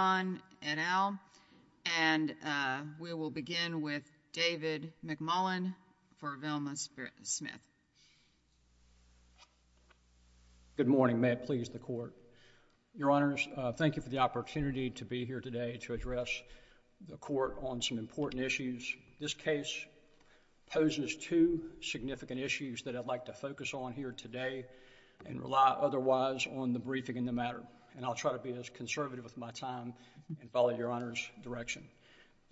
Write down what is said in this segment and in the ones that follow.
and Al, and we will begin with David McMullin for Velma Smith. Good morning, may it please the court. Your honors, thank you for the opportunity to be here today to address the court on some important issues. This case poses two significant issues that I'd like to focus on here today and rely otherwise on the briefing in the matter, and I'll try to be as conservative with my time and follow your honors' direction.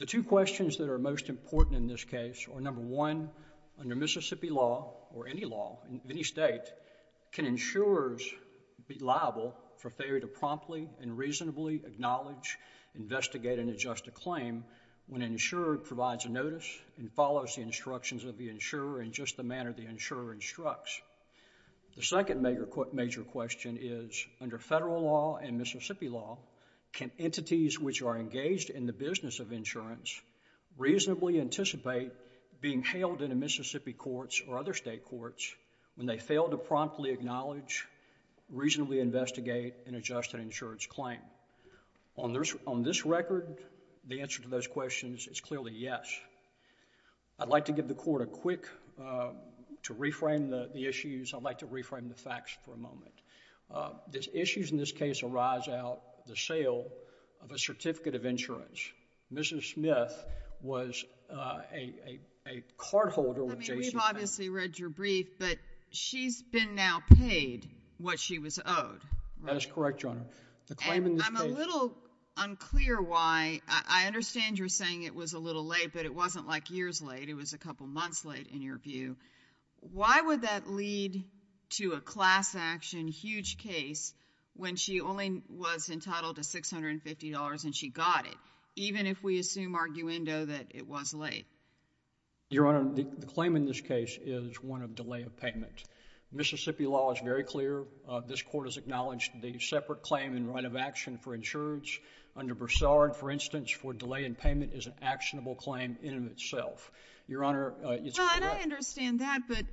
The two questions that are most important in this case are number one, under Mississippi law or any law in any state, can insurers be liable for failure to promptly and reasonably acknowledge, investigate, and adjust a claim when an insurer provides a notice and follows the instructions of the insurer in just the manner the insurer instructs? The second major question is, under federal law and Mississippi law, can entities which are engaged in the business of insurance reasonably anticipate being held in a Mississippi courts or other state courts when they fail to promptly acknowledge, reasonably investigate, and adjust an insurer's claim? On this record, the answer to those questions is clearly yes. I'd like to give the court a quick... to reframe the issues. I'd like to reframe the facts for a moment. The issues in this case arise out of the sale of a certificate of insurance. Mrs. Smith was a cardholder with JCPenney... I mean, we've obviously read your brief, but she's been now paid what she was owed, right? That is correct, Your Honor. The claim in this case... And I'm a little unclear why... I understand you're saying it was a little late, but it wasn't like years late. It was a couple months late, in your view. Why would that lead to a class action, huge case, when she only was entitled to $650 and she got it, even if we assume arguendo that it was late? Your Honor, the claim in this case is one of delay of payment. Mississippi law is very clear. This court has acknowledged the separate claim in right of action for insurance under Broussard, for instance, for delay in payment is an actionable claim in and of itself. Your Honor, it's... Well, and I understand that, but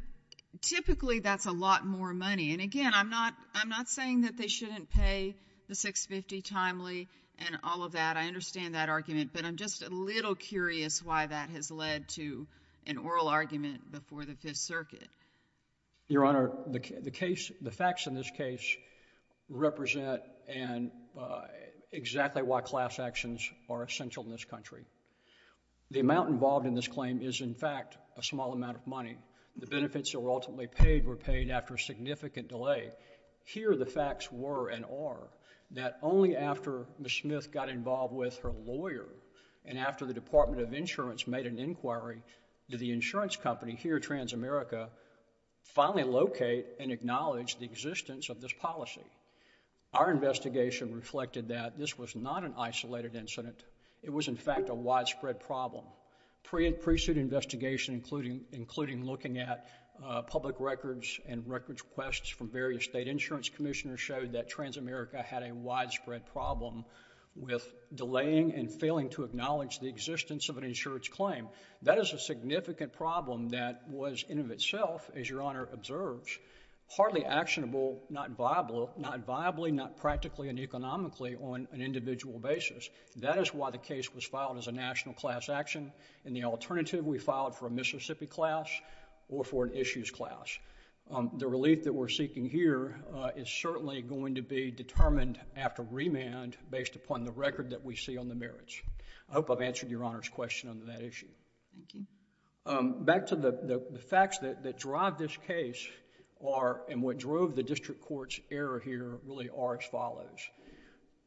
typically that's a lot more money. And again, I'm not... I'm not saying that they shouldn't pay the $650 timely and all of that. I understand that argument, but I'm just a little curious why that has led to an oral argument before the Fifth Circuit. Your Honor, the case... the facts in this case represent and... exactly why class actions are essential in this country. The amount involved in this claim is, in fact, a small amount of money. The benefits that were ultimately paid were paid after a significant delay. Here, the facts were and are that only after Ms. Smith got involved with her lawyer and after the Department of Insurance made an inquiry, did the insurance company here, TransAmerica, finally locate and acknowledge the existence of this policy. Our investigation reflected that this was not an isolated incident. It was, in fact, a widespread problem. Pre-suit investigation, including looking at public records and records requests from various state insurance commissioners showed that TransAmerica had a widespread problem with delaying and failing to acknowledge the existence of an insurance claim. That is a significant problem that was, in and of itself, as Your Honor observes, partly actionable, not viably, not practically and economically on an individual basis. That is why the case was filed as a national class action and the alternative we filed for a Mississippi class or for an issues class. The relief that we're seeking here is certainly going to be determined after remand based upon the record that we see on the merits. I hope I've answered Your Honor's question on that issue. Back to the facts that drive this case are and what drove the district court's error here really are as follows.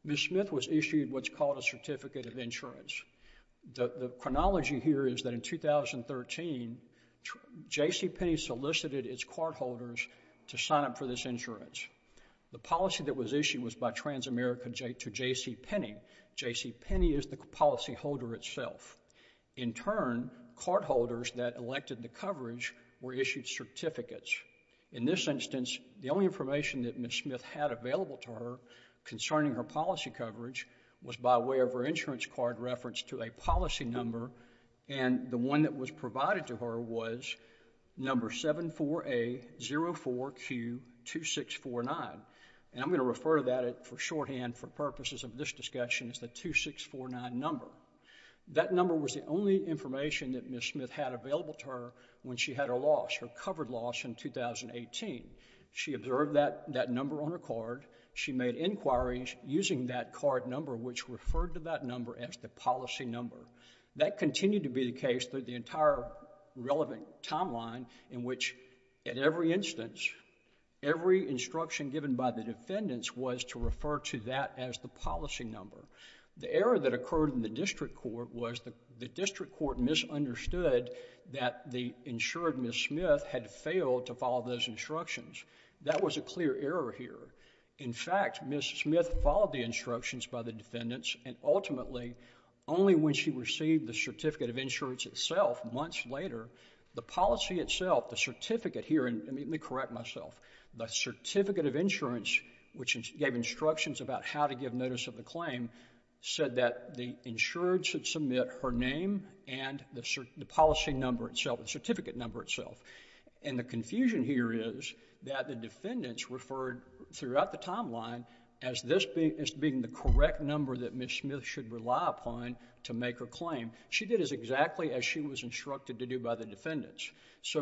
Ms. Smith was issued what's called a certificate of insurance. The chronology here is that in 2013, JCPenney solicited its court holders to sign up for this insurance. The policy that was issued was by TransAmerica to JCPenney. JCPenney is the policy holder itself. In turn, court holders that elected the coverage were issued certificates. In this instance, the only information that Ms. Smith had available to her concerning her policy coverage was by way of her insurance card reference to a policy number. The one that was provided to her was number 74A04Q2649. I'm going to refer to that for shorthand for purposes of this discussion as the 2649 number. That number was the only information that Ms. Smith had available to her when she had her loss, her covered loss in 2018. She observed that number on her card. She made inquiries using that card number which referred to that number as the policy number. That continued to be the case through the entire relevant timeline in which at every instance, every instruction given by the defendants was to refer to that as the policy number. The error that occurred in the district court was the district court misunderstood that the insured Ms. Smith had failed to follow those instructions. That was a clear error here. In fact, Ms. Smith followed the instructions by the defendants and ultimately only when she received the certificate of insurance itself months later, the policy itself, the certificate here, and let me correct myself, the certificate of insurance which gave instructions about how to give notice of the claim said that the insured should submit her name and the policy number itself, the certificate number itself. The confusion here is that the defendants referred throughout the timeline as this being the correct number that Ms. Smith should rely upon to make her claim. She did as exactly as she was instructed to do by the defendants.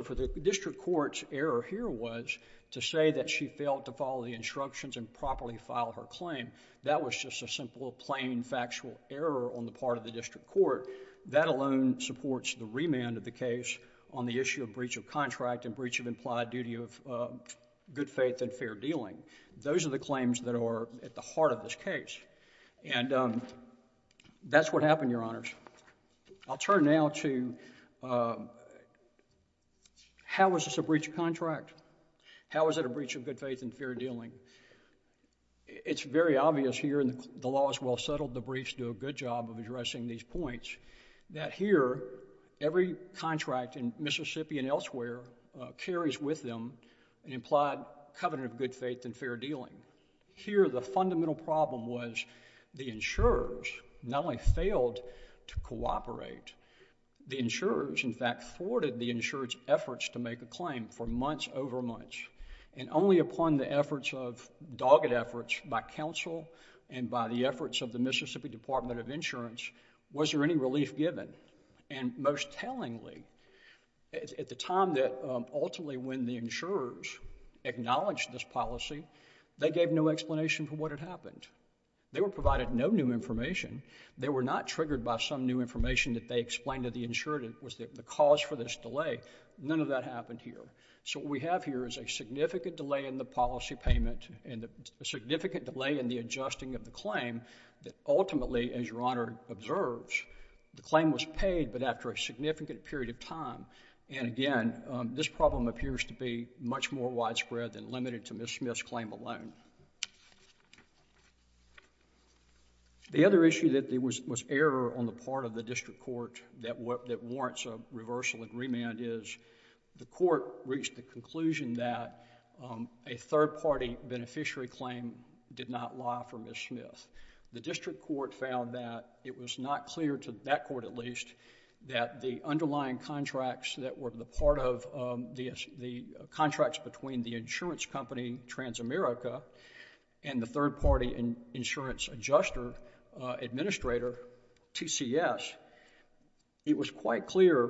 For the district court's error here was to say that she failed to follow the instructions and properly file her claim. That was just a simple plain factual error on the part of the district court. That alone supports the remand of the case on the issue of breach of contract and breach of implied duty of good faith and fair dealing. Those are the claims that are at the heart of this case. And that's what happened, Your Honors. I'll turn now to how was this a breach of contract? How was it a breach of good faith and fair dealing? It's very obvious here, and the law is well settled, the briefs do a good job of addressing these points, that here every contract in Mississippi and elsewhere carries with them an implied covenant of good faith and fair dealing. Here the fundamental problem was the insurers not only failed to cooperate, the insurers in fact thwarted the insurer's efforts to make a claim for months over months. And only upon the efforts of, dogged efforts by counsel and by the efforts of the Mississippi Department of Insurance was there any relief given. And most tellingly, at the time that ultimately when the insurers acknowledged this policy, they gave no explanation for what had happened. They were provided no new information. They were not triggered by some new information that they explained to the insurer that was the cause for this delay. None of that happened here. So what we have here is a significant delay in the policy payment and a significant delay in the adjusting of the claim that ultimately as Your Honor observes, the claim was paid but after a significant period of time. And again, this problem appears to be much more widespread than limited to Ms. Smith's claim alone. The other issue that was error on the part of the district court that warrants a reversal agreement is the court reached the conclusion that a third party beneficiary claim did not lie for Ms. Smith. The district court found that it was not clear to that court at least that the underlying contracts that were the part of the contracts between the insurance company Transamerica and the third party insurance adjuster administrator, TCS, it was quite clear,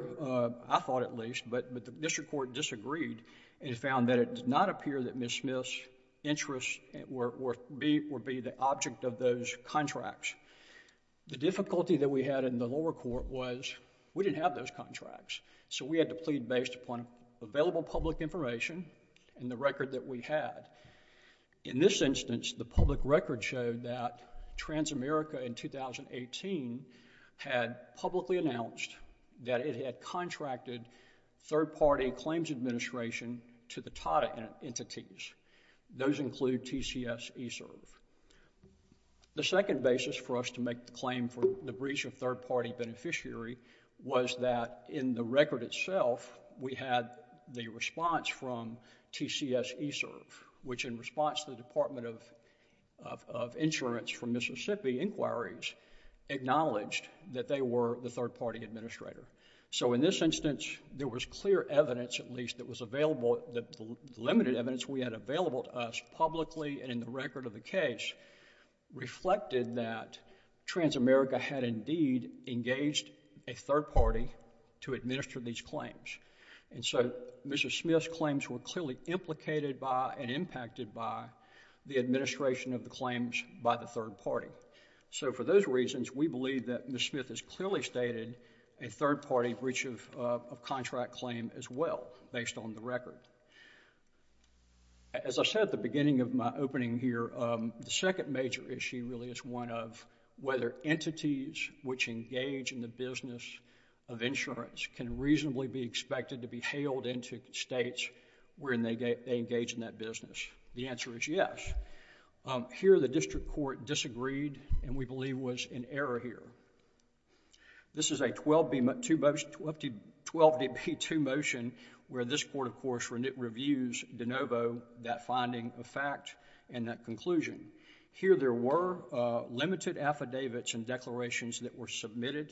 I thought at least, but the district court disagreed and found that it did not appear that Ms. Smith's interest would be the object of those contracts. The difficulty that we had in the lower court was we didn't have those contracts. So we had to plead based upon available public information and the record that we had. In this instance, the public record showed that Transamerica in 2018 had publicly announced that it had contracted third party claims administration to the TATA entities. Those include TCS eServe. The second basis for us to make the claim for the breach of third party beneficiary was that in the record itself, we had the response from TCS eServe which in response to the Department of Insurance from Mississippi inquiries acknowledged that they were the third party administrator. So in this instance, there was clear evidence at least that was available, the limited evidence we had available to us publicly and in the record of the case reflected that Transamerica had indeed engaged a third party to administer these claims. So Ms. Smith's claims were clearly implicated by and impacted by the administration of the claims by the third party. So for those reasons, we believe that Ms. Smith has clearly stated a third party breach of contract claim as well based on the record. As I said at the beginning of my opening here, the second major issue really is one of whether entities which engage in the business of insurance can reasonably be expected to be hailed into states wherein they engage in that business. The answer is yes. Here the district court disagreed and we believe was in error here. This is a 12B2 motion where this court of course reviews de novo that finding of fact and that conclusion. Here there were limited affidavits and declarations that were made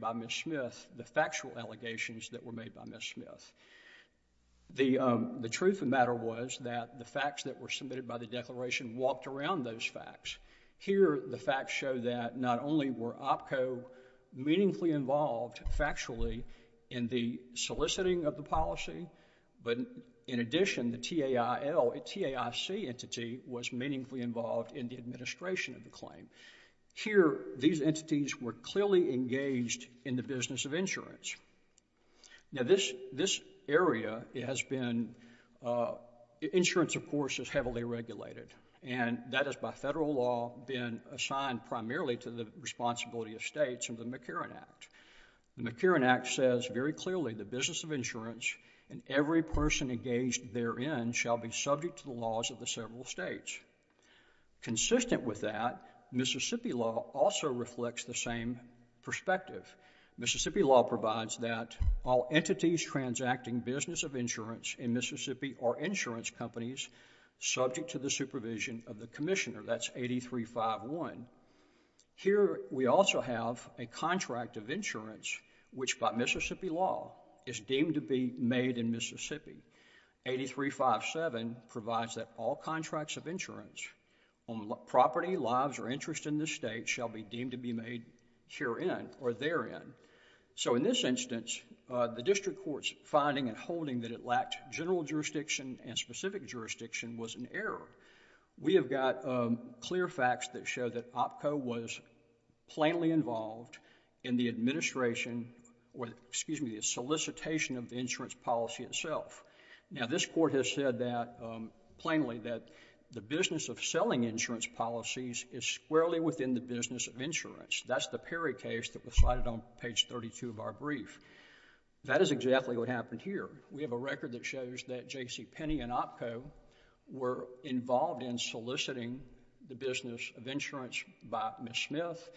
by Ms. Smith. The truth of the matter was that the facts that were submitted by the declaration walked around those facts. Here the facts show that not only were OPCO meaningfully involved factually in the soliciting of the policy, but in addition the TAIC entity was meaningfully involved in the administration of the claim. Here these entities were clearly engaged in the business of insurance. Now this area has been, insurance of course is heavily regulated and that is by federal law been assigned primarily to the responsibility of states under the McCarran Act. The McCarran Act says very clearly the business of insurance and every person engaged therein shall be subject to the laws of the several states. Consistent with that, Mississippi law also reflects the same perspective. Mississippi law provides that all entities transacting business of insurance in Mississippi or insurance companies subject to the supervision of the commissioner, that's 8351. Here we also have a contract of insurance which by Mississippi law is deemed to be made in Mississippi. 8357 provides that all contracts of insurance on property, lives or interest in this state shall be deemed to be made herein or therein. So in this instance, the district court's finding and holding that it lacked general jurisdiction and specific jurisdiction was an error. We have got clear facts that show that OPCO was plainly involved in the administration or excuse me, the solicitation of the insurance policy itself. Now this court has said that plainly that the business of selling insurance policies is squarely within the business of insurance. That's the Perry case that was cited on page 32 of our brief. That is exactly what happened here. We have a fact that shows that J.C. Penney and OPCO were involved in soliciting the business of insurance by Ms. Smith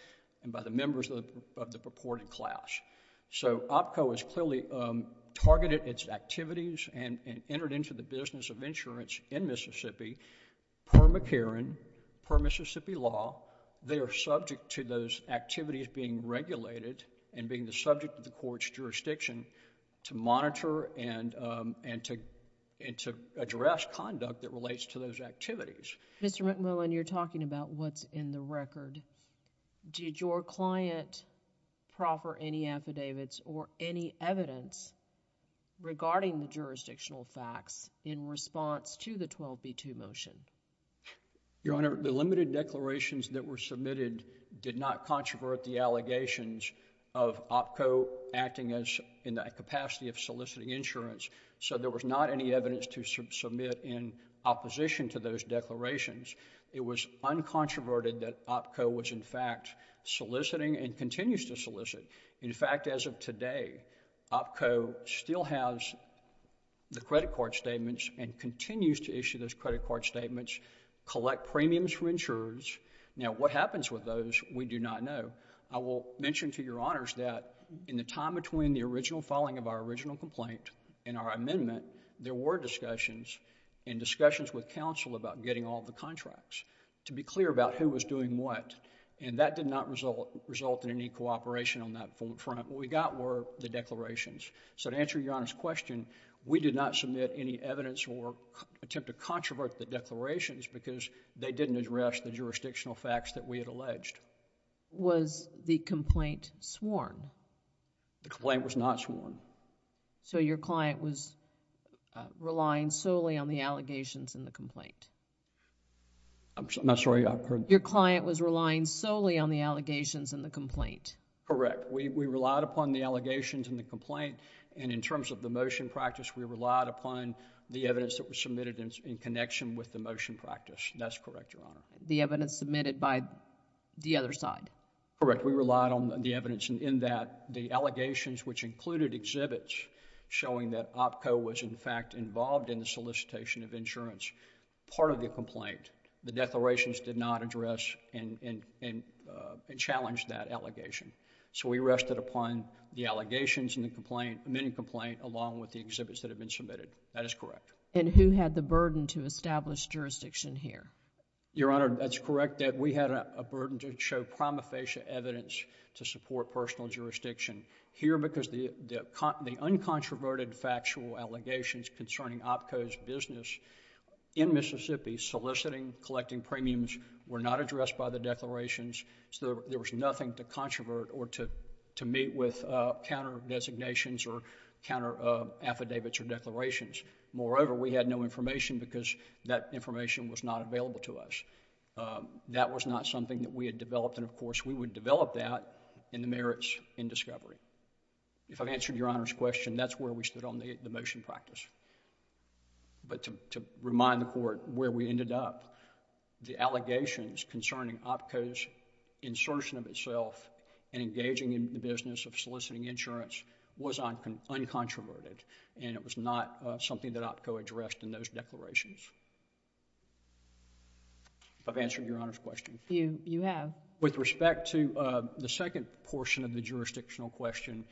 and by the members of the purported class. So OPCO has clearly targeted its activities and entered into the business of insurance in Mississippi per McCarran, per Mississippi law. They are subject to those activities being regulated and being the subject of the and to address conduct that relates to those activities. Mr. McMillan, you're talking about what's in the record. Did your client proper any affidavits or any evidence regarding the jurisdictional facts in response to the 12b2 motion? Your Honor, the limited declarations that were submitted did not controvert the allegations of OPCO acting as in that capacity of soliciting insurance. So there was not any evidence to submit in opposition to those declarations. It was uncontroverted that OPCO was in fact soliciting and continues to solicit. In fact, as of today, OPCO still has the credit card statements and continues to issue those credit card statements, collect premiums from insurers. Now, what happens with those, we do not know. I will mention to Your Honors that in the time between the original filing of our original complaint and our amendment, there were discussions and discussions with counsel about getting all the contracts to be clear about who was doing what. That did not result in any cooperation on that front. What we got were the declarations. So to answer Your Honor's question, we did not submit any evidence or attempt to controvert the declarations because they didn't address the jurisdictional facts that we had alleged. Was the complaint sworn? The complaint was not sworn. So your client was relying solely on the allegations in the complaint? I'm sorry, I heard... Your client was relying solely on the allegations in the complaint? Correct. We relied upon the allegations in the complaint and in terms of the motion practice, we relied upon the evidence that was submitted in connection with the motion practice. That's correct, Your Honor. The evidence submitted by the other side? Correct. We relied on the evidence in that the allegations which included exhibits showing that OPCO was in fact involved in the solicitation of insurance, part of the complaint, the declarations did not address and challenge that allegation. So we rested upon the allegations in the amending complaint along with the exhibits that have been submitted. That is correct. And who had the burden to establish jurisdiction here? Your Honor, that's correct that we had a burden to show prima facie evidence to support personal jurisdiction here because the uncontroverted factual allegations concerning OPCO's business in Mississippi soliciting, collecting premiums were not addressed by the declarations. So there was nothing to controvert or to meet with counter-designations or counter-affidavits or declarations. Moreover, we had no information because that information was not available to us. That was not something that we had developed and of course we would develop that in the merits in discovery. If I've answered Your Honor's question, that's where we stood on the motion practice. But to remind the Court where we ended up, the allegations concerning OPCO's insertion of itself and engaging in the business of soliciting insurance was uncontroverted and it was not something that OPCO addressed in those declarations. If I've answered Your Honor's question. You have. With respect to the second portion of the jurisdictional question,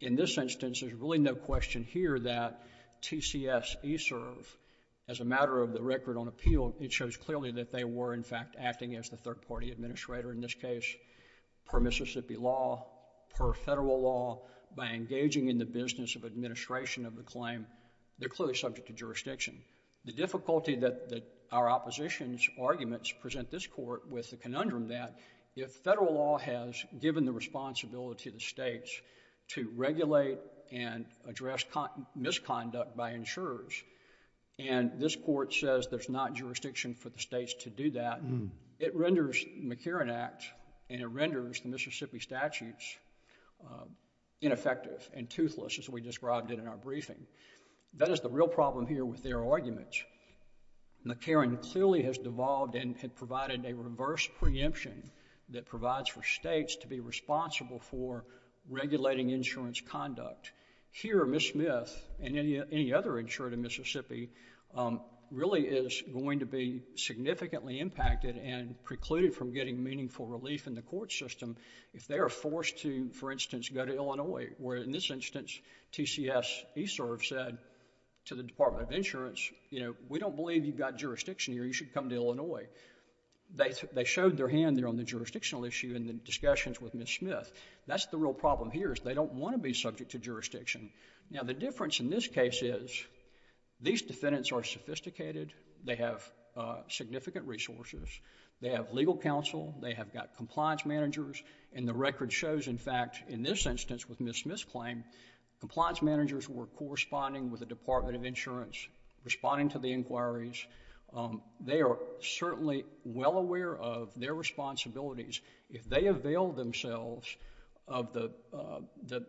in this instance, there's really no question here that TCS ESERV as a matter of the record on appeal, it shows clearly that they were in fact acting as the third party administrator in this case per Mississippi law, per federal law, by engaging in the business of administration of the claim. They're clearly subject to jurisdiction. The difficulty that our opposition's arguments present this Court with the conundrum that if federal law has given the responsibility to the states to regulate and address misconduct by insurers and this Court says there's not jurisdiction for the states to do that, it renders McKeren Act and it renders the Mississippi statutes ineffective and toothless as we described it in our briefing. That is the real problem here with their arguments. McKeren clearly has devolved and provided a reverse preemption that provides for states to be responsible for regulating insurance conduct. Here Ms. Smith and any other insurer in Mississippi really is going to be significantly impacted and precluded from getting meaningful relief in the case. They are forced to, for instance, go to Illinois where in this instance, TCS ESERV said to the Department of Insurance, we don't believe you've got jurisdiction here, you should come to Illinois. They showed their hand there on the jurisdictional issue in the discussions with Ms. Smith. That's the real problem here is they don't want to be subject to jurisdiction. The difference in this case is these defendants are sophisticated, they have significant resources, they have legal counsel, they have got compliance managers and the record shows, in fact, in this instance with Ms. Smith's claim, compliance managers were corresponding with the Department of Insurance, responding to the inquiries. They are certainly well aware of their responsibilities. If they avail themselves of the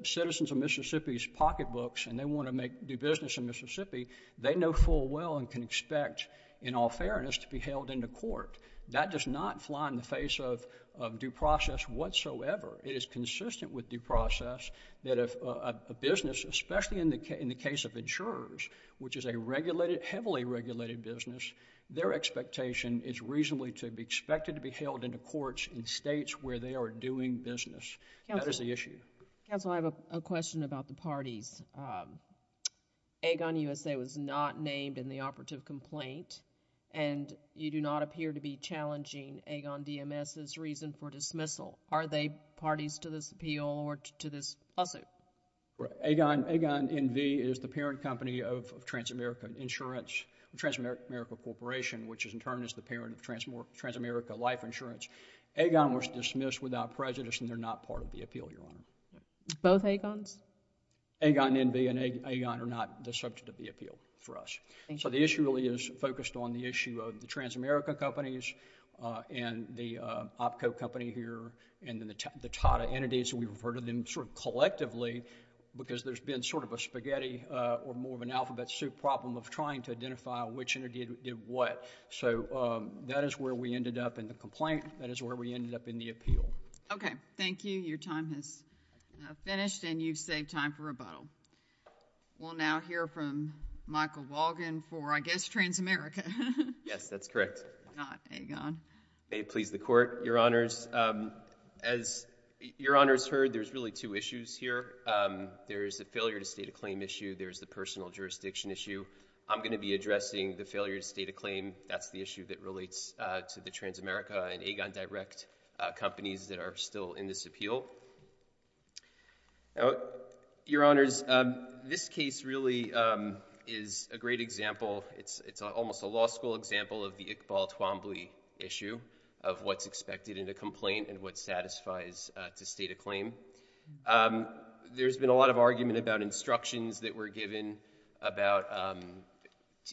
citizens of Mississippi's pocketbooks and they want to make do business in Mississippi, they know full well and can expect in all fairness to be held into court. That does not fly in the face of due process whatsoever. It is consistent with due process that if a business, especially in the case of insurers, which is a regulated, heavily regulated business, their expectation is reasonably to be expected to be held into courts in states where they are doing business. That is the issue. Counsel, I have a question about the parties. Aegon USA was not named in the operative complaint and you do not appear to be challenging Aegon DMS's reason for dismissal. Are they parties to this appeal or to this lawsuit? Aegon, Aegon NV is the parent company of Transamerica Insurance, Transamerica Corporation, which in turn is the parent of Transamerica Life Insurance. Aegon was dismissed without prejudice and they are not part of the appeal, Your Honor. Both Aegons? Aegon NV and Aegon are not the subject of the appeal for us. The issue really is focused on the issue of the Transamerica companies and the OPCO company here and the TATA entities. We refer to them collectively because there has been sort of a spaghetti or more of an alphabet soup problem of trying to identify which entity did what. That is where we ended up in the complaint. That is where we ended up in the appeal. Okay. Thank you. Your time has finished and you've saved time for rebuttal. We'll now hear from Michael Walgan for, I guess, Transamerica. Yes, that's correct. Why not, Aegon? May it please the Court, Your Honors. As Your Honors heard, there's really two issues here. There's a failure to state a claim issue. There's the personal jurisdiction issue. I'm going to be addressing the failure to state a claim. That's the issue that relates to the Transamerica and Aegon Direct companies that are still in this appeal. Now, Your Honors, this case really is a great example. It's almost a law school example of the Iqbal Twombly issue of what's expected in a complaint and what satisfies to state a claim. There's been a lot of argument about instructions that were given about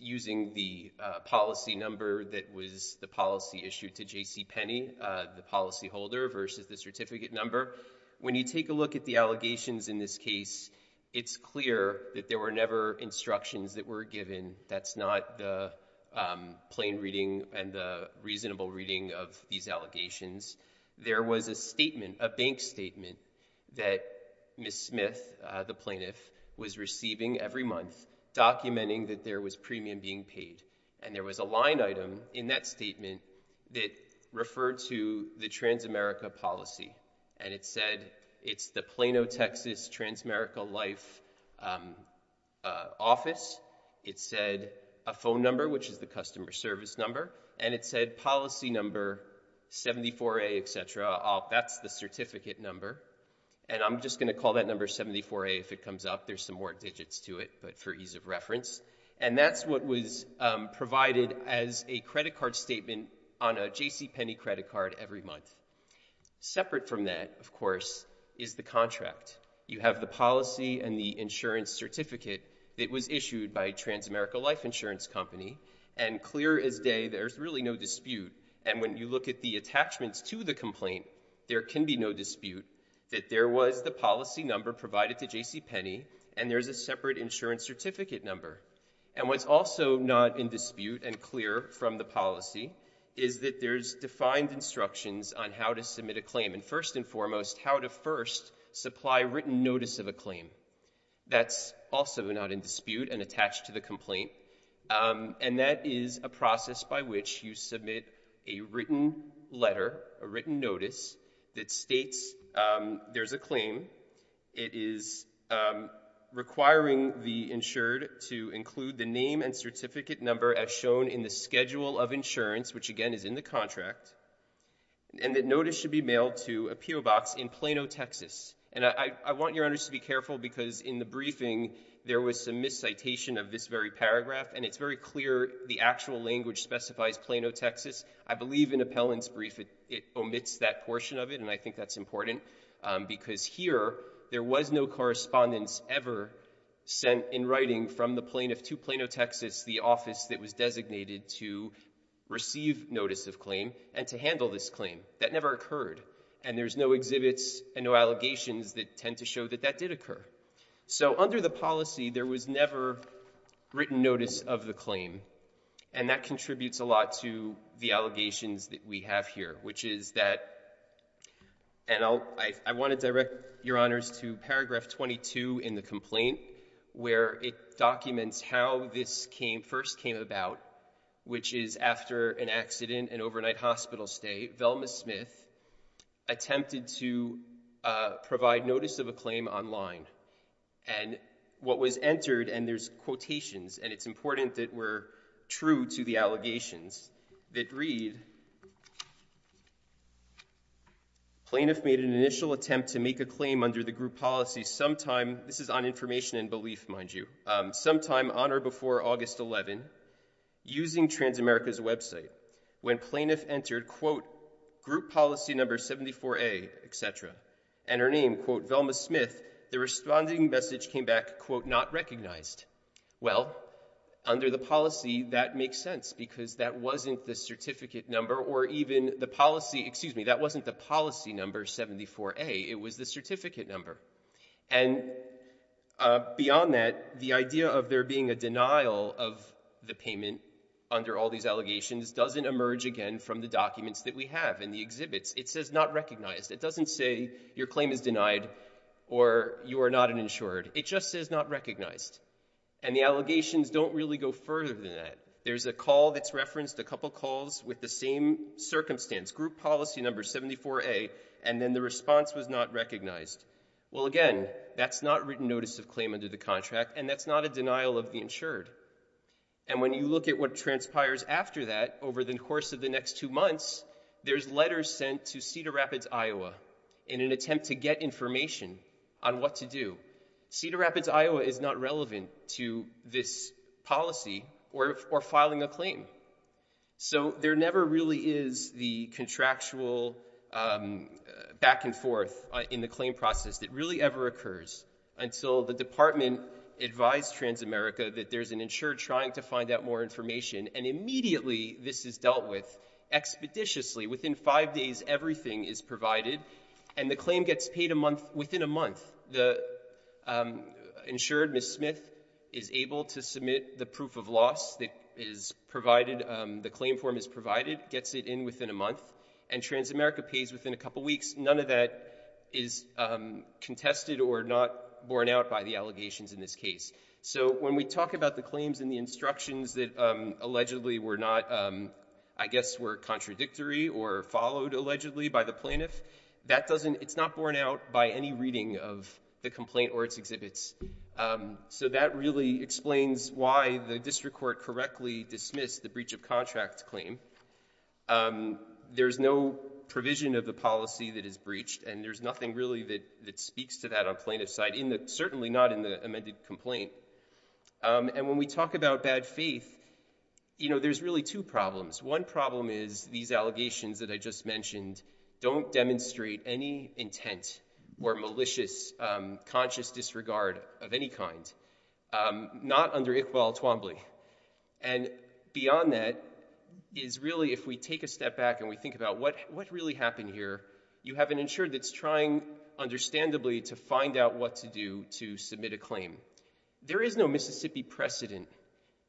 using the policy number that was the policy issued to J.C. Penny, the policyholder, versus the certificate number. When you take a look at the allegations in this case, it's clear that there were never instructions that were given. That's not the plain reading and the reasonable reading of these allegations. There was a statement, a bank statement, that Ms. Smith, the plaintiff, was receiving every month documenting that there was premium being paid. There was a line item in that statement that referred to the Transamerica policy. It said it's the Plano, Texas, Transamerica Life office. It said a phone number, which is the customer service number. It said policy number 74A, etc. That's the certificate number. I'm just going to call that number 74A. If it comes up, there's some more digits to it, but for ease of reference. That's what was provided as a credit card statement on a J.C. Penny credit card every month. Separate from that, of course, is the contract. You have the policy and the insurance certificate that was issued by a Transamerica Life insurance company, and clear as day, there's really no dispute. When you look at the attachments to the complaint, there can be no dispute that there was the policy number provided to J.C. Penny, and there's a separate insurance certificate number. What's also not in dispute and clear from the policy is that there's defined instructions on how to submit a claim, and first and foremost, how to first supply written notice of a claim. That's also not in dispute and attached to the complaint, and that is a process by which you submit a written letter, a letter to include the name and certificate number as shown in the schedule of insurance, which again is in the contract, and that notice should be mailed to a PO box in Plano, Texas, and I want your honors to be careful because in the briefing, there was some miscitation of this very paragraph, and it's very clear the actual language specifies Plano, Texas. I believe in Appellant's brief, it omits that portion of it, and I think that's important because here, there was no correspondence ever sent in writing from the plaintiff to Plano, Texas, the office that was designated to receive notice of claim and to handle this claim. That never occurred, and there's no exhibits and no allegations that tend to show that that did occur. So under the policy, there was never written notice of the claim, and that contributes a lot to the allegations that we have here, which is that, and I want to direct your honors to paragraph 22 in the complaint, where it documents how this first came about, which is after an accident, an overnight hospital stay, Velma Smith attempted to provide notice of a claim online, and what was entered, and there's quotations, and it's important that we're true to the allegations, that read, Plaintiff made an initial attempt to make a claim under the group policy sometime, this is on information and belief, mind you, sometime on or before August 11, using Transamerica's website, when plaintiff entered, quote, group policy number 74A, et cetera, and her name, quote, Velma Smith, the responding message came back, quote, not recognized. Well, under the policy, that makes sense, because that wasn't the certificate number, or even the policy, excuse me, that wasn't the policy number 74A, it was the certificate number. And beyond that, the idea of there being a denial of the payment under all these allegations doesn't emerge again from the documents that we have in the exhibits. It says not recognized. It doesn't say your claim is denied, or you are not an insured. It just says not recognized. And the allegations don't really go further than that. There's a call that's referenced, a couple calls with the same circumstance, group policy number 74A, and then the response was not recognized. Well, again, that's not written notice of claim under the contract, and that's not a denial of the insured. And when you look at what transpires after that, over the course of the next two months, there's letters sent to Cedar Rapids, Iowa, in an attempt to get information on what to do. Cedar Rapids, Iowa, is not relevant to this policy or filing a claim. So there never really is the contractual back and forth in the claim process that really ever occurs until the department advised Transamerica that there's an insured trying to find out more information, and immediately this is dealt with expeditiously. Within five days, everything is provided, and the claim gets paid a month, within a month. The insured, Ms. Smith, is able to submit the proof of loss that is provided, the claim form is provided, gets it in within a month, and Transamerica pays within a couple weeks. None of that is contested or not borne out by the allegations in this case. So when we talk about the instructions that allegedly were not, I guess, were contradictory or followed allegedly by the plaintiff, it's not borne out by any reading of the complaint or its exhibits. So that really explains why the district court correctly dismissed the breach of contract claim. There's no provision of the policy that is breached, and there's nothing really that speaks to that on the plaintiff's side, certainly not in the amended complaint. And when we talk about bad faith, you know, there's really two problems. One problem is these allegations that I just mentioned don't demonstrate any intent or malicious conscious disregard of any kind, not under Iqbal Twombly. And beyond that is really if we take a step back and we think about what really happened here, you have an officer that's trying, understandably, to find out what to do to submit a claim. There is no Mississippi precedent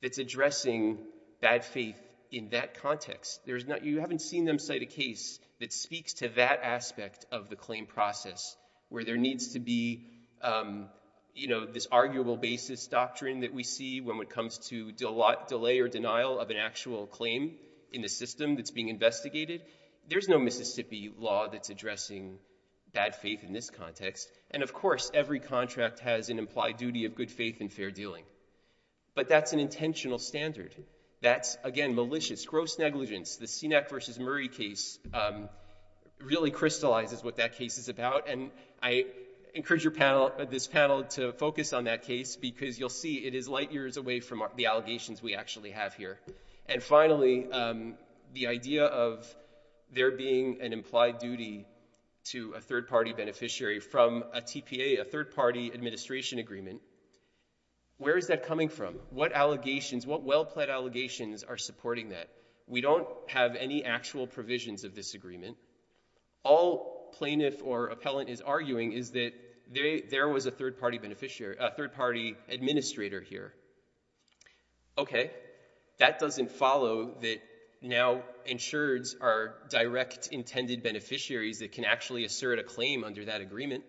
that's addressing bad faith in that context. You haven't seen them cite a case that speaks to that aspect of the claim process where there needs to be, you know, this arguable basis doctrine that we see when it comes to delay or denial of an actual claim in the system that's being investigated. There's no Mississippi law that's addressing bad faith in this context. And of course, every contract has an implied duty of good faith and fair dealing. But that's an intentional standard. That's, again, malicious, gross negligence. The Sinek v. Murray case really crystallizes what that case is about. And I encourage your panel, this panel, to focus on that case because you'll see it is light years away from the allegations we actually have here. And finally, the idea of there being an implied duty to a third-party beneficiary from a TPA, a third-party administration agreement, where is that coming from? What allegations, what well-pled allegations are supporting that? We don't have any actual provisions of this agreement. All plaintiff or appellant is arguing is that there was a third-party beneficiary, a third-party administrator here. Okay, that doesn't follow that now insureds are direct intended beneficiaries that can actually assert a claim under that agreement.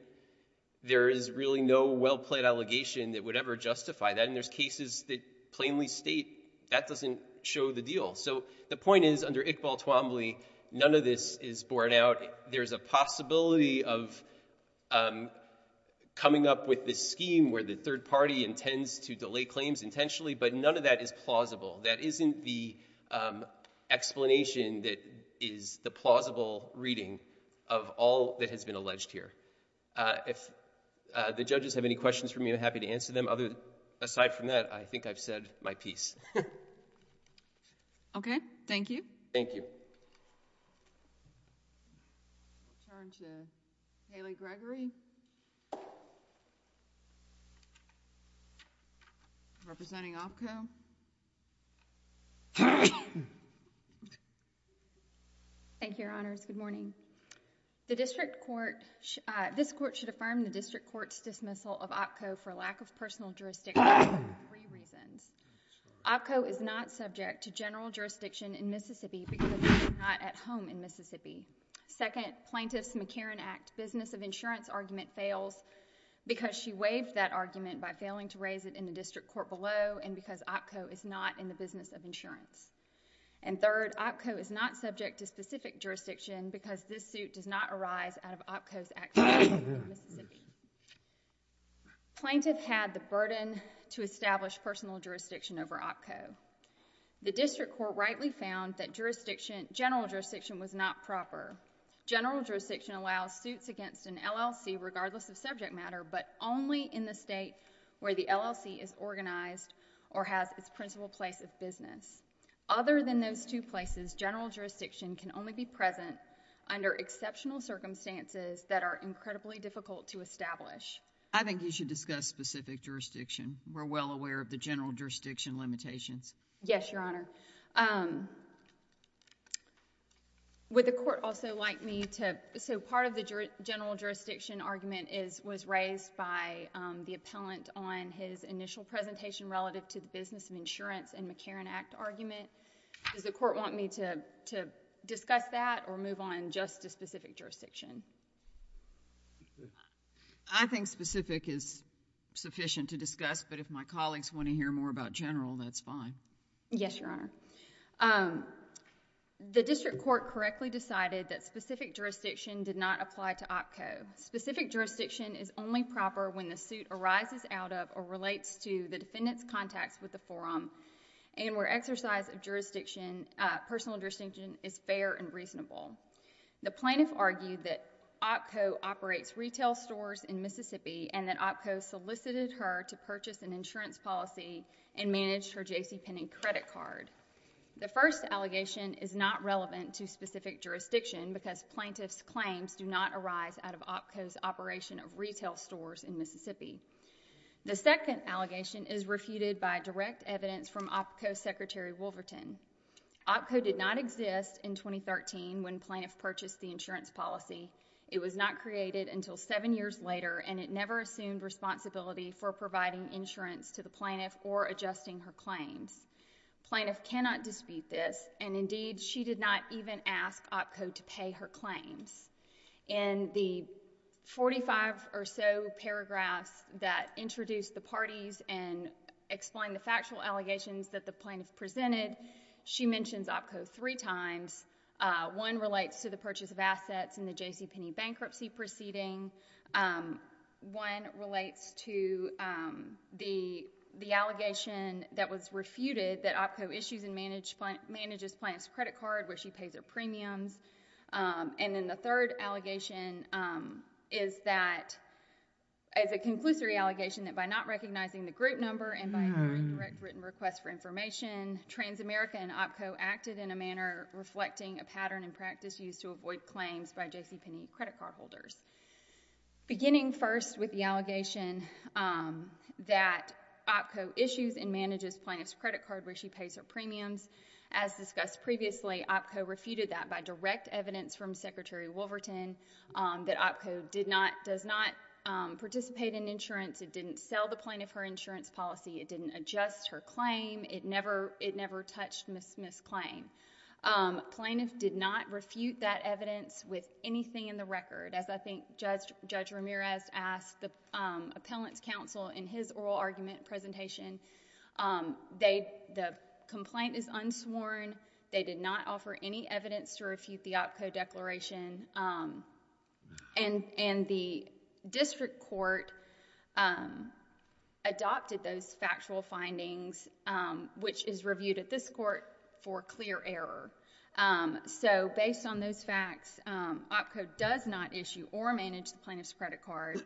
There is really no well-pled allegation that would ever justify that. And there's cases that plainly state that doesn't show the deal. So the point is, under Iqbal Twombly, none of this is borne out. There's a possibility of coming up with this scheme where the third party intends to delay claims intentionally, but none of that is plausible. That isn't the explanation that is the plausible reading of all that has been alleged here. If the judges have any questions for me, I'm happy to answer them. Aside from that, I think I've said my piece. Okay, thank you. Thank you. Turn to Haley Gregory representing OPCO. Thank you, Your Honors. Good morning. The district court, this court should affirm the district court's dismissal of OPCO for lack of personal jurisdiction for three reasons. OPCO is not subject to general jurisdiction in Mississippi because it is not at home in Mississippi. Second, Plaintiff's McCarran Act business of insurance argument fails because she waived that argument by failing to raise it in the district court below and because OPCO is not in the business of insurance. And third, OPCO is not subject to specific jurisdiction because this suit does not arise out of OPCO's act in Mississippi. Plaintiff had the burden to establish personal jurisdiction over OPCO. The district court rightly found that jurisdiction, general jurisdiction was not proper. General jurisdiction allows suits against an LLC regardless of subject matter but only in the state where the LLC is organized or has its principal place of business. Other than those two places, general jurisdiction can only be present under exceptional circumstances that are incredibly difficult to establish. I think you should discuss specific jurisdiction. We're well aware of the general jurisdiction limitations. Yes, Your Honor. Would the court also like me to... so part of the general jurisdiction argument was raised by the appellant on his initial presentation relative to the business of insurance and McCarran Act argument. Does the court want me to discuss that or move on just to specific jurisdiction? I think specific is sufficient to discuss but if my colleagues want to hear more about general, that's fine. Yes, Your Honor. The district court correctly decided that specific jurisdiction did not apply to OPCO. Specific jurisdiction is only proper when the suit arises out of or relates to the defendant's contacts with the forum and where exercise of jurisdiction, personal jurisdiction is fair and reasonable. The plaintiff argued that OPCO operates retail stores in Mississippi and that OPCO solicited her to purchase an insurance policy and manage her JCPenney credit card. The first allegation is not relevant to specific jurisdiction because plaintiff's claims do not arise out of OPCO's operation of retail stores in Mississippi. The second allegation is refuted by direct evidence from OPCO Secretary Wolverton. OPCO did not exist in 2013 when plaintiff purchased the insurance policy. It was not created until seven years later and it never assumed responsibility for providing insurance to the plaintiff or adjusting her claims. Plaintiff cannot dispute this and indeed, she did not even ask OPCO to pay her claims. In the 45 or so paragraphs that introduced the parties and explain the factual allegations that the plaintiff presented, she mentions OPCO three times. One relates to the purchase of assets and the JCPenney bankruptcy proceeding. One relates to the allegation that was refuted that OPCO issues and manages plaintiff's credit card where she pays her premiums. Then the third allegation is a conclusory allegation that by not recognizing the group number and by incorrect written requests for information, Transamerica and OPCO acted in a manner reflecting a pattern and practice used to avoid claims by JCPenney credit card holders. Beginning first with the allegation that OPCO issues and manages plaintiff's credit card where she pays her premiums. As discussed previously, OPCO refuted that by direct evidence from Secretary Wolverton that OPCO does not participate in insurance. It didn't sell the plaintiff her insurance policy. It didn't adjust her claim. It never touched Ms. Claim. Plaintiff did not refute that evidence with anything in the record. As I think Judge Ramirez asked the appellant's counsel in his oral argument presentation, the complaint is unsworn. They did not offer any evidence to refute the OPCO declaration. The district court adopted those factual findings which is reviewed at this court for clear error. Based on those facts, OPCO does not issue or manage the plaintiff's credit card.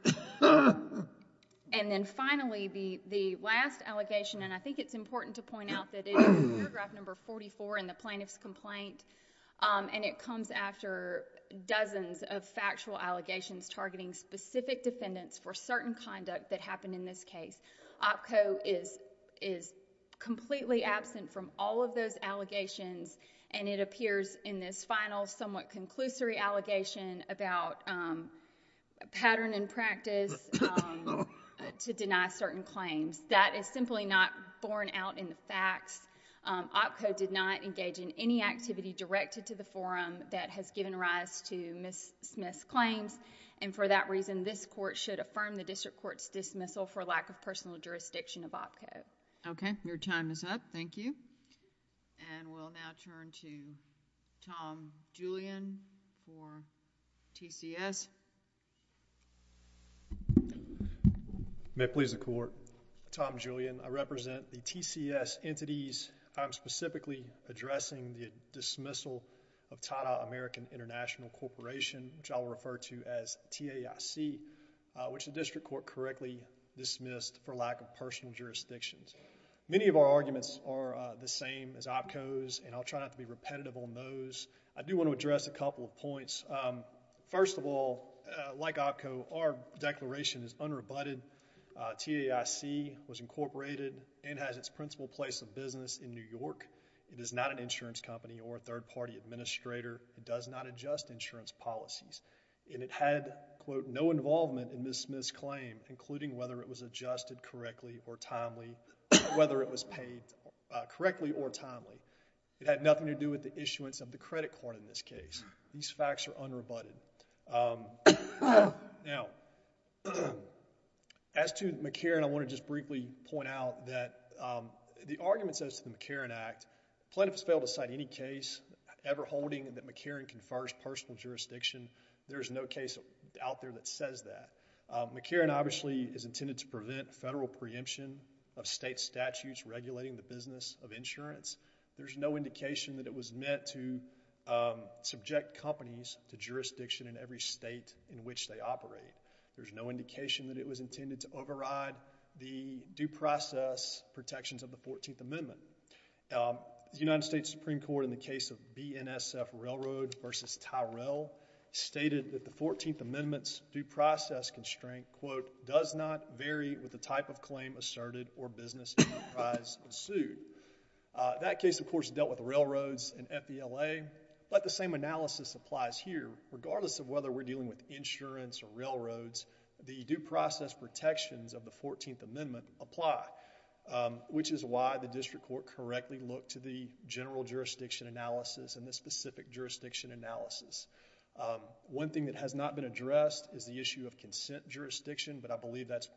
Finally, the last allegation and I think it's important to point out that it is paragraph number 44 in the plaintiff's complaint. It comes after dozens of factual allegations targeting specific defendants for certain conduct that happened in this case. OPCO is completely absent from all of those allegations and it appears in this final somewhat conclusory allegation about pattern and practice to deny certain claims. That is simply not borne out in the facts. OPCO did not engage in any activity directed to the forum that has given rise to Ms. Smith's claims and for that reason, this court should affirm the district court's dismissal for lack of personal jurisdiction of OPCO. Okay. Your time is up. Thank you. We'll now turn to Tom Julian for TCS. May it please the court. Tom Julian. I represent the TCS entities. I'm specifically addressing the dismissal of Tata American International Corporation, which I'll refer to as TAIC, which the district court correctly dismissed for lack of personal jurisdictions. Many of our arguments are the same as OPCO's and I'll try not to be repetitive on those. I do want to address a couple of points. First of all, like OPCO, our declaration is unrebutted. TAIC was incorporated and has its principal place of business in New York. It is not an insurance company or a third party administrator. It does not adjust insurance policies. It had, quote, no involvement in Ms. Smith's claim, including whether it was adjusted correctly or timely, whether it was paid correctly or timely. It had nothing to do with the issuance of the credit card in this case. These facts are unrebutted. Now, as to McCarran, I want to just briefly point out that the argument says to the McCarran Act, plaintiffs fail to cite any case ever holding that McCarran confers personal jurisdiction. There's no case out there that says that. McCarran obviously is intended to prevent federal preemption of state statutes regulating the business of insurance. There's no indication that it was meant to subject companies to jurisdiction in every state in which they operate. There's no indication that it was intended to override the due process protections of the Fourteenth Amendment. The United States Supreme Court in the case of BNSF Railroad versus Tyrell stated that the Fourteenth Amendment's due process constraint, quote, does not vary with the type of claim asserted or business enterprise pursued. That case, of course, dealt with railroads and FBLA, but the same analysis applies here. Regardless of whether we're dealing with insurance or railroads, the due process protections of the Fourteenth Amendment apply, which is why the district court correctly looked to the general jurisdiction analysis and the specific jurisdiction analysis. One thing that has not been addressed is the issue of consent jurisdiction, but I believe that's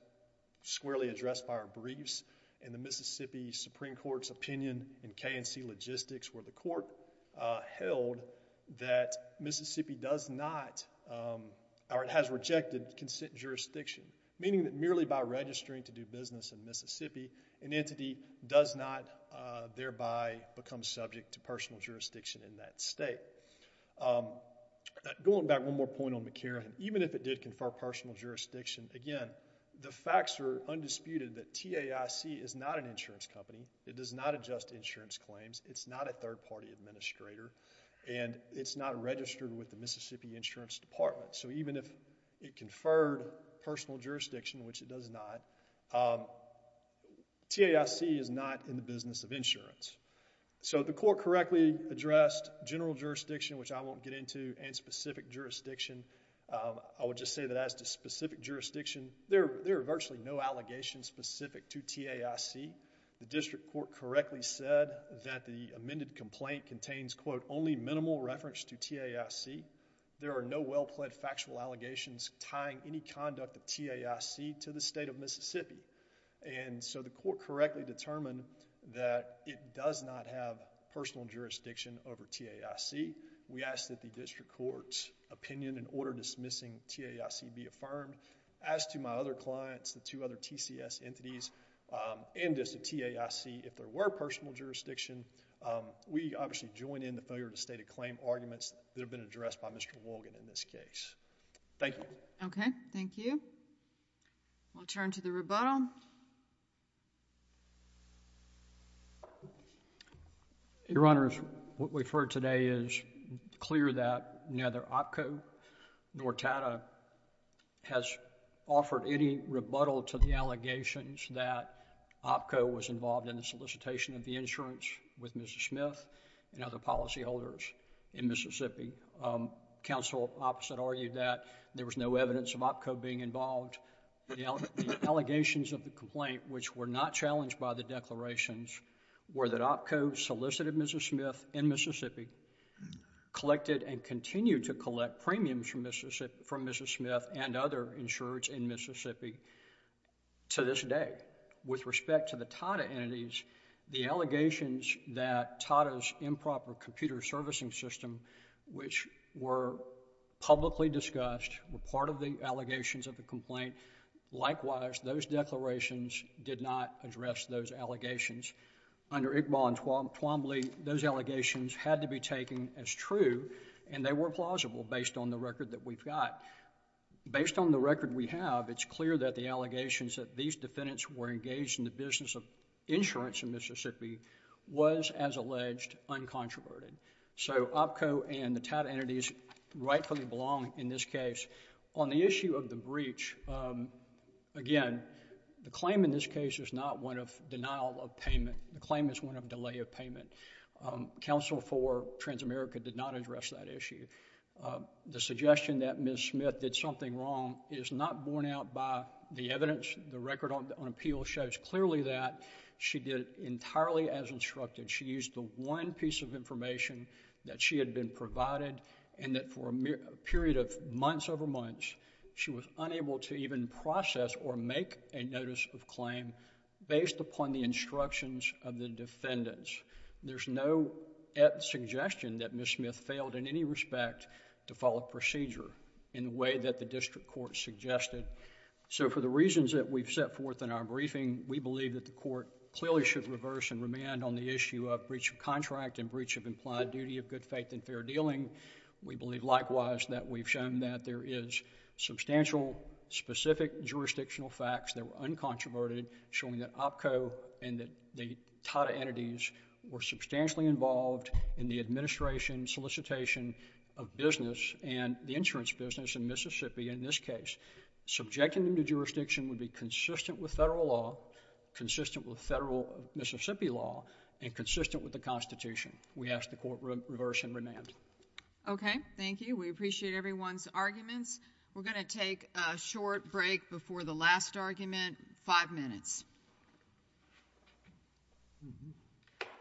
squarely addressed by our briefs in the Mississippi Supreme Court's opinion in K&C Logistics where the court held that Mississippi does not or it has rejected consent jurisdiction, meaning that merely by registering to do business in Mississippi, an entity does not thereby become subject to personal jurisdiction in that state. Going back one more point on McCarran, even if it did confer personal jurisdiction, again, the facts are undisputed that TAIC is not an insurance company. It does not adjust insurance claims. It's not a third-party administrator, and it's not registered with the Mississippi Insurance Department, so even if it conferred personal jurisdiction, which it does not, TAIC is not in the business of insurance. So the court correctly addressed general jurisdiction, which I won't get into, and specific jurisdiction. I would just say that as to specific jurisdiction, there are virtually no allegations specific to TAIC. The district court correctly said that the amended complaint contains, quote, only minimal reference to TAIC. There are no well-plaid factual allegations tying any conduct of TAIC to the state of Mississippi. So the court correctly determined that it does not have personal jurisdiction over TAIC. We ask that the district court's opinion in order dismissing TAIC be affirmed. As to my other clients, the two other TCS entities, and as to TAIC, if there were personal jurisdiction, we obviously join in the failure to state a claim arguments that have been addressed by Mr. Wolgan in this case. Thank you. Okay. Thank you. We'll turn to the rebuttal. Your Honors, what we've heard today is clear that neither OPCO nor TATA has offered any rebuttal to the allegations that OPCO was involved in the solicitation of the insurance with Mrs. Smith and other policyholders in Mississippi. Counsel opposite argued that there was no evidence of OPCO being involved. The allegations of the complaint, which were not challenged by the declarations, were that OPCO solicited Mrs. Smith in Mississippi, collected and continued to collect premiums from Mrs. Smith and other insurers in Mississippi to this day. With respect to the TATA entities, the allegations that TATA's improper computer servicing system, which were publicly discussed, were part of the allegations of the complaint. Likewise, those declarations did not address those allegations. Under Iqbal and Twombly, those allegations had to be taken as true and they were plausible based on the record that we've got. Based on the record we have, it's clear that the allegations that these defendants were engaged in the business of insurance in Mississippi was, as alleged, uncontroverted. So, OPCO and the TATA entities rightfully belong in this case. On the issue of the breach, again, the claim in this case is not one of denial of payment. The claim is one of delay of payment. Counsel for Transamerica did not address that issue. The suggestion that Mrs. Smith did something wrong is not borne out by the evidence. The case is entirely as instructed. She used the one piece of information that she had been provided and that for a period of months over months, she was unable to even process or make a notice of claim based upon the instructions of the defendants. There's no suggestion that Mrs. Smith failed in any respect to follow procedure in the way that the district court suggested. So, for the reasons that we've set forth in our briefing, we believe that the court clearly should reverse and remand on the issue of breach of contract and breach of implied duty of good faith and fair dealing. We believe likewise that we've shown that there is substantial specific jurisdictional facts that were uncontroverted showing that OPCO and the TATA entities were substantially involved in the administration solicitation of business and the insurance business in Mississippi in this case. Subjecting them to federal Mississippi law and consistent with the Constitution. We ask the court reverse and remand. Okay. Thank you. We appreciate everyone's arguments. We're going to take a short break before the last argument. Five minutes.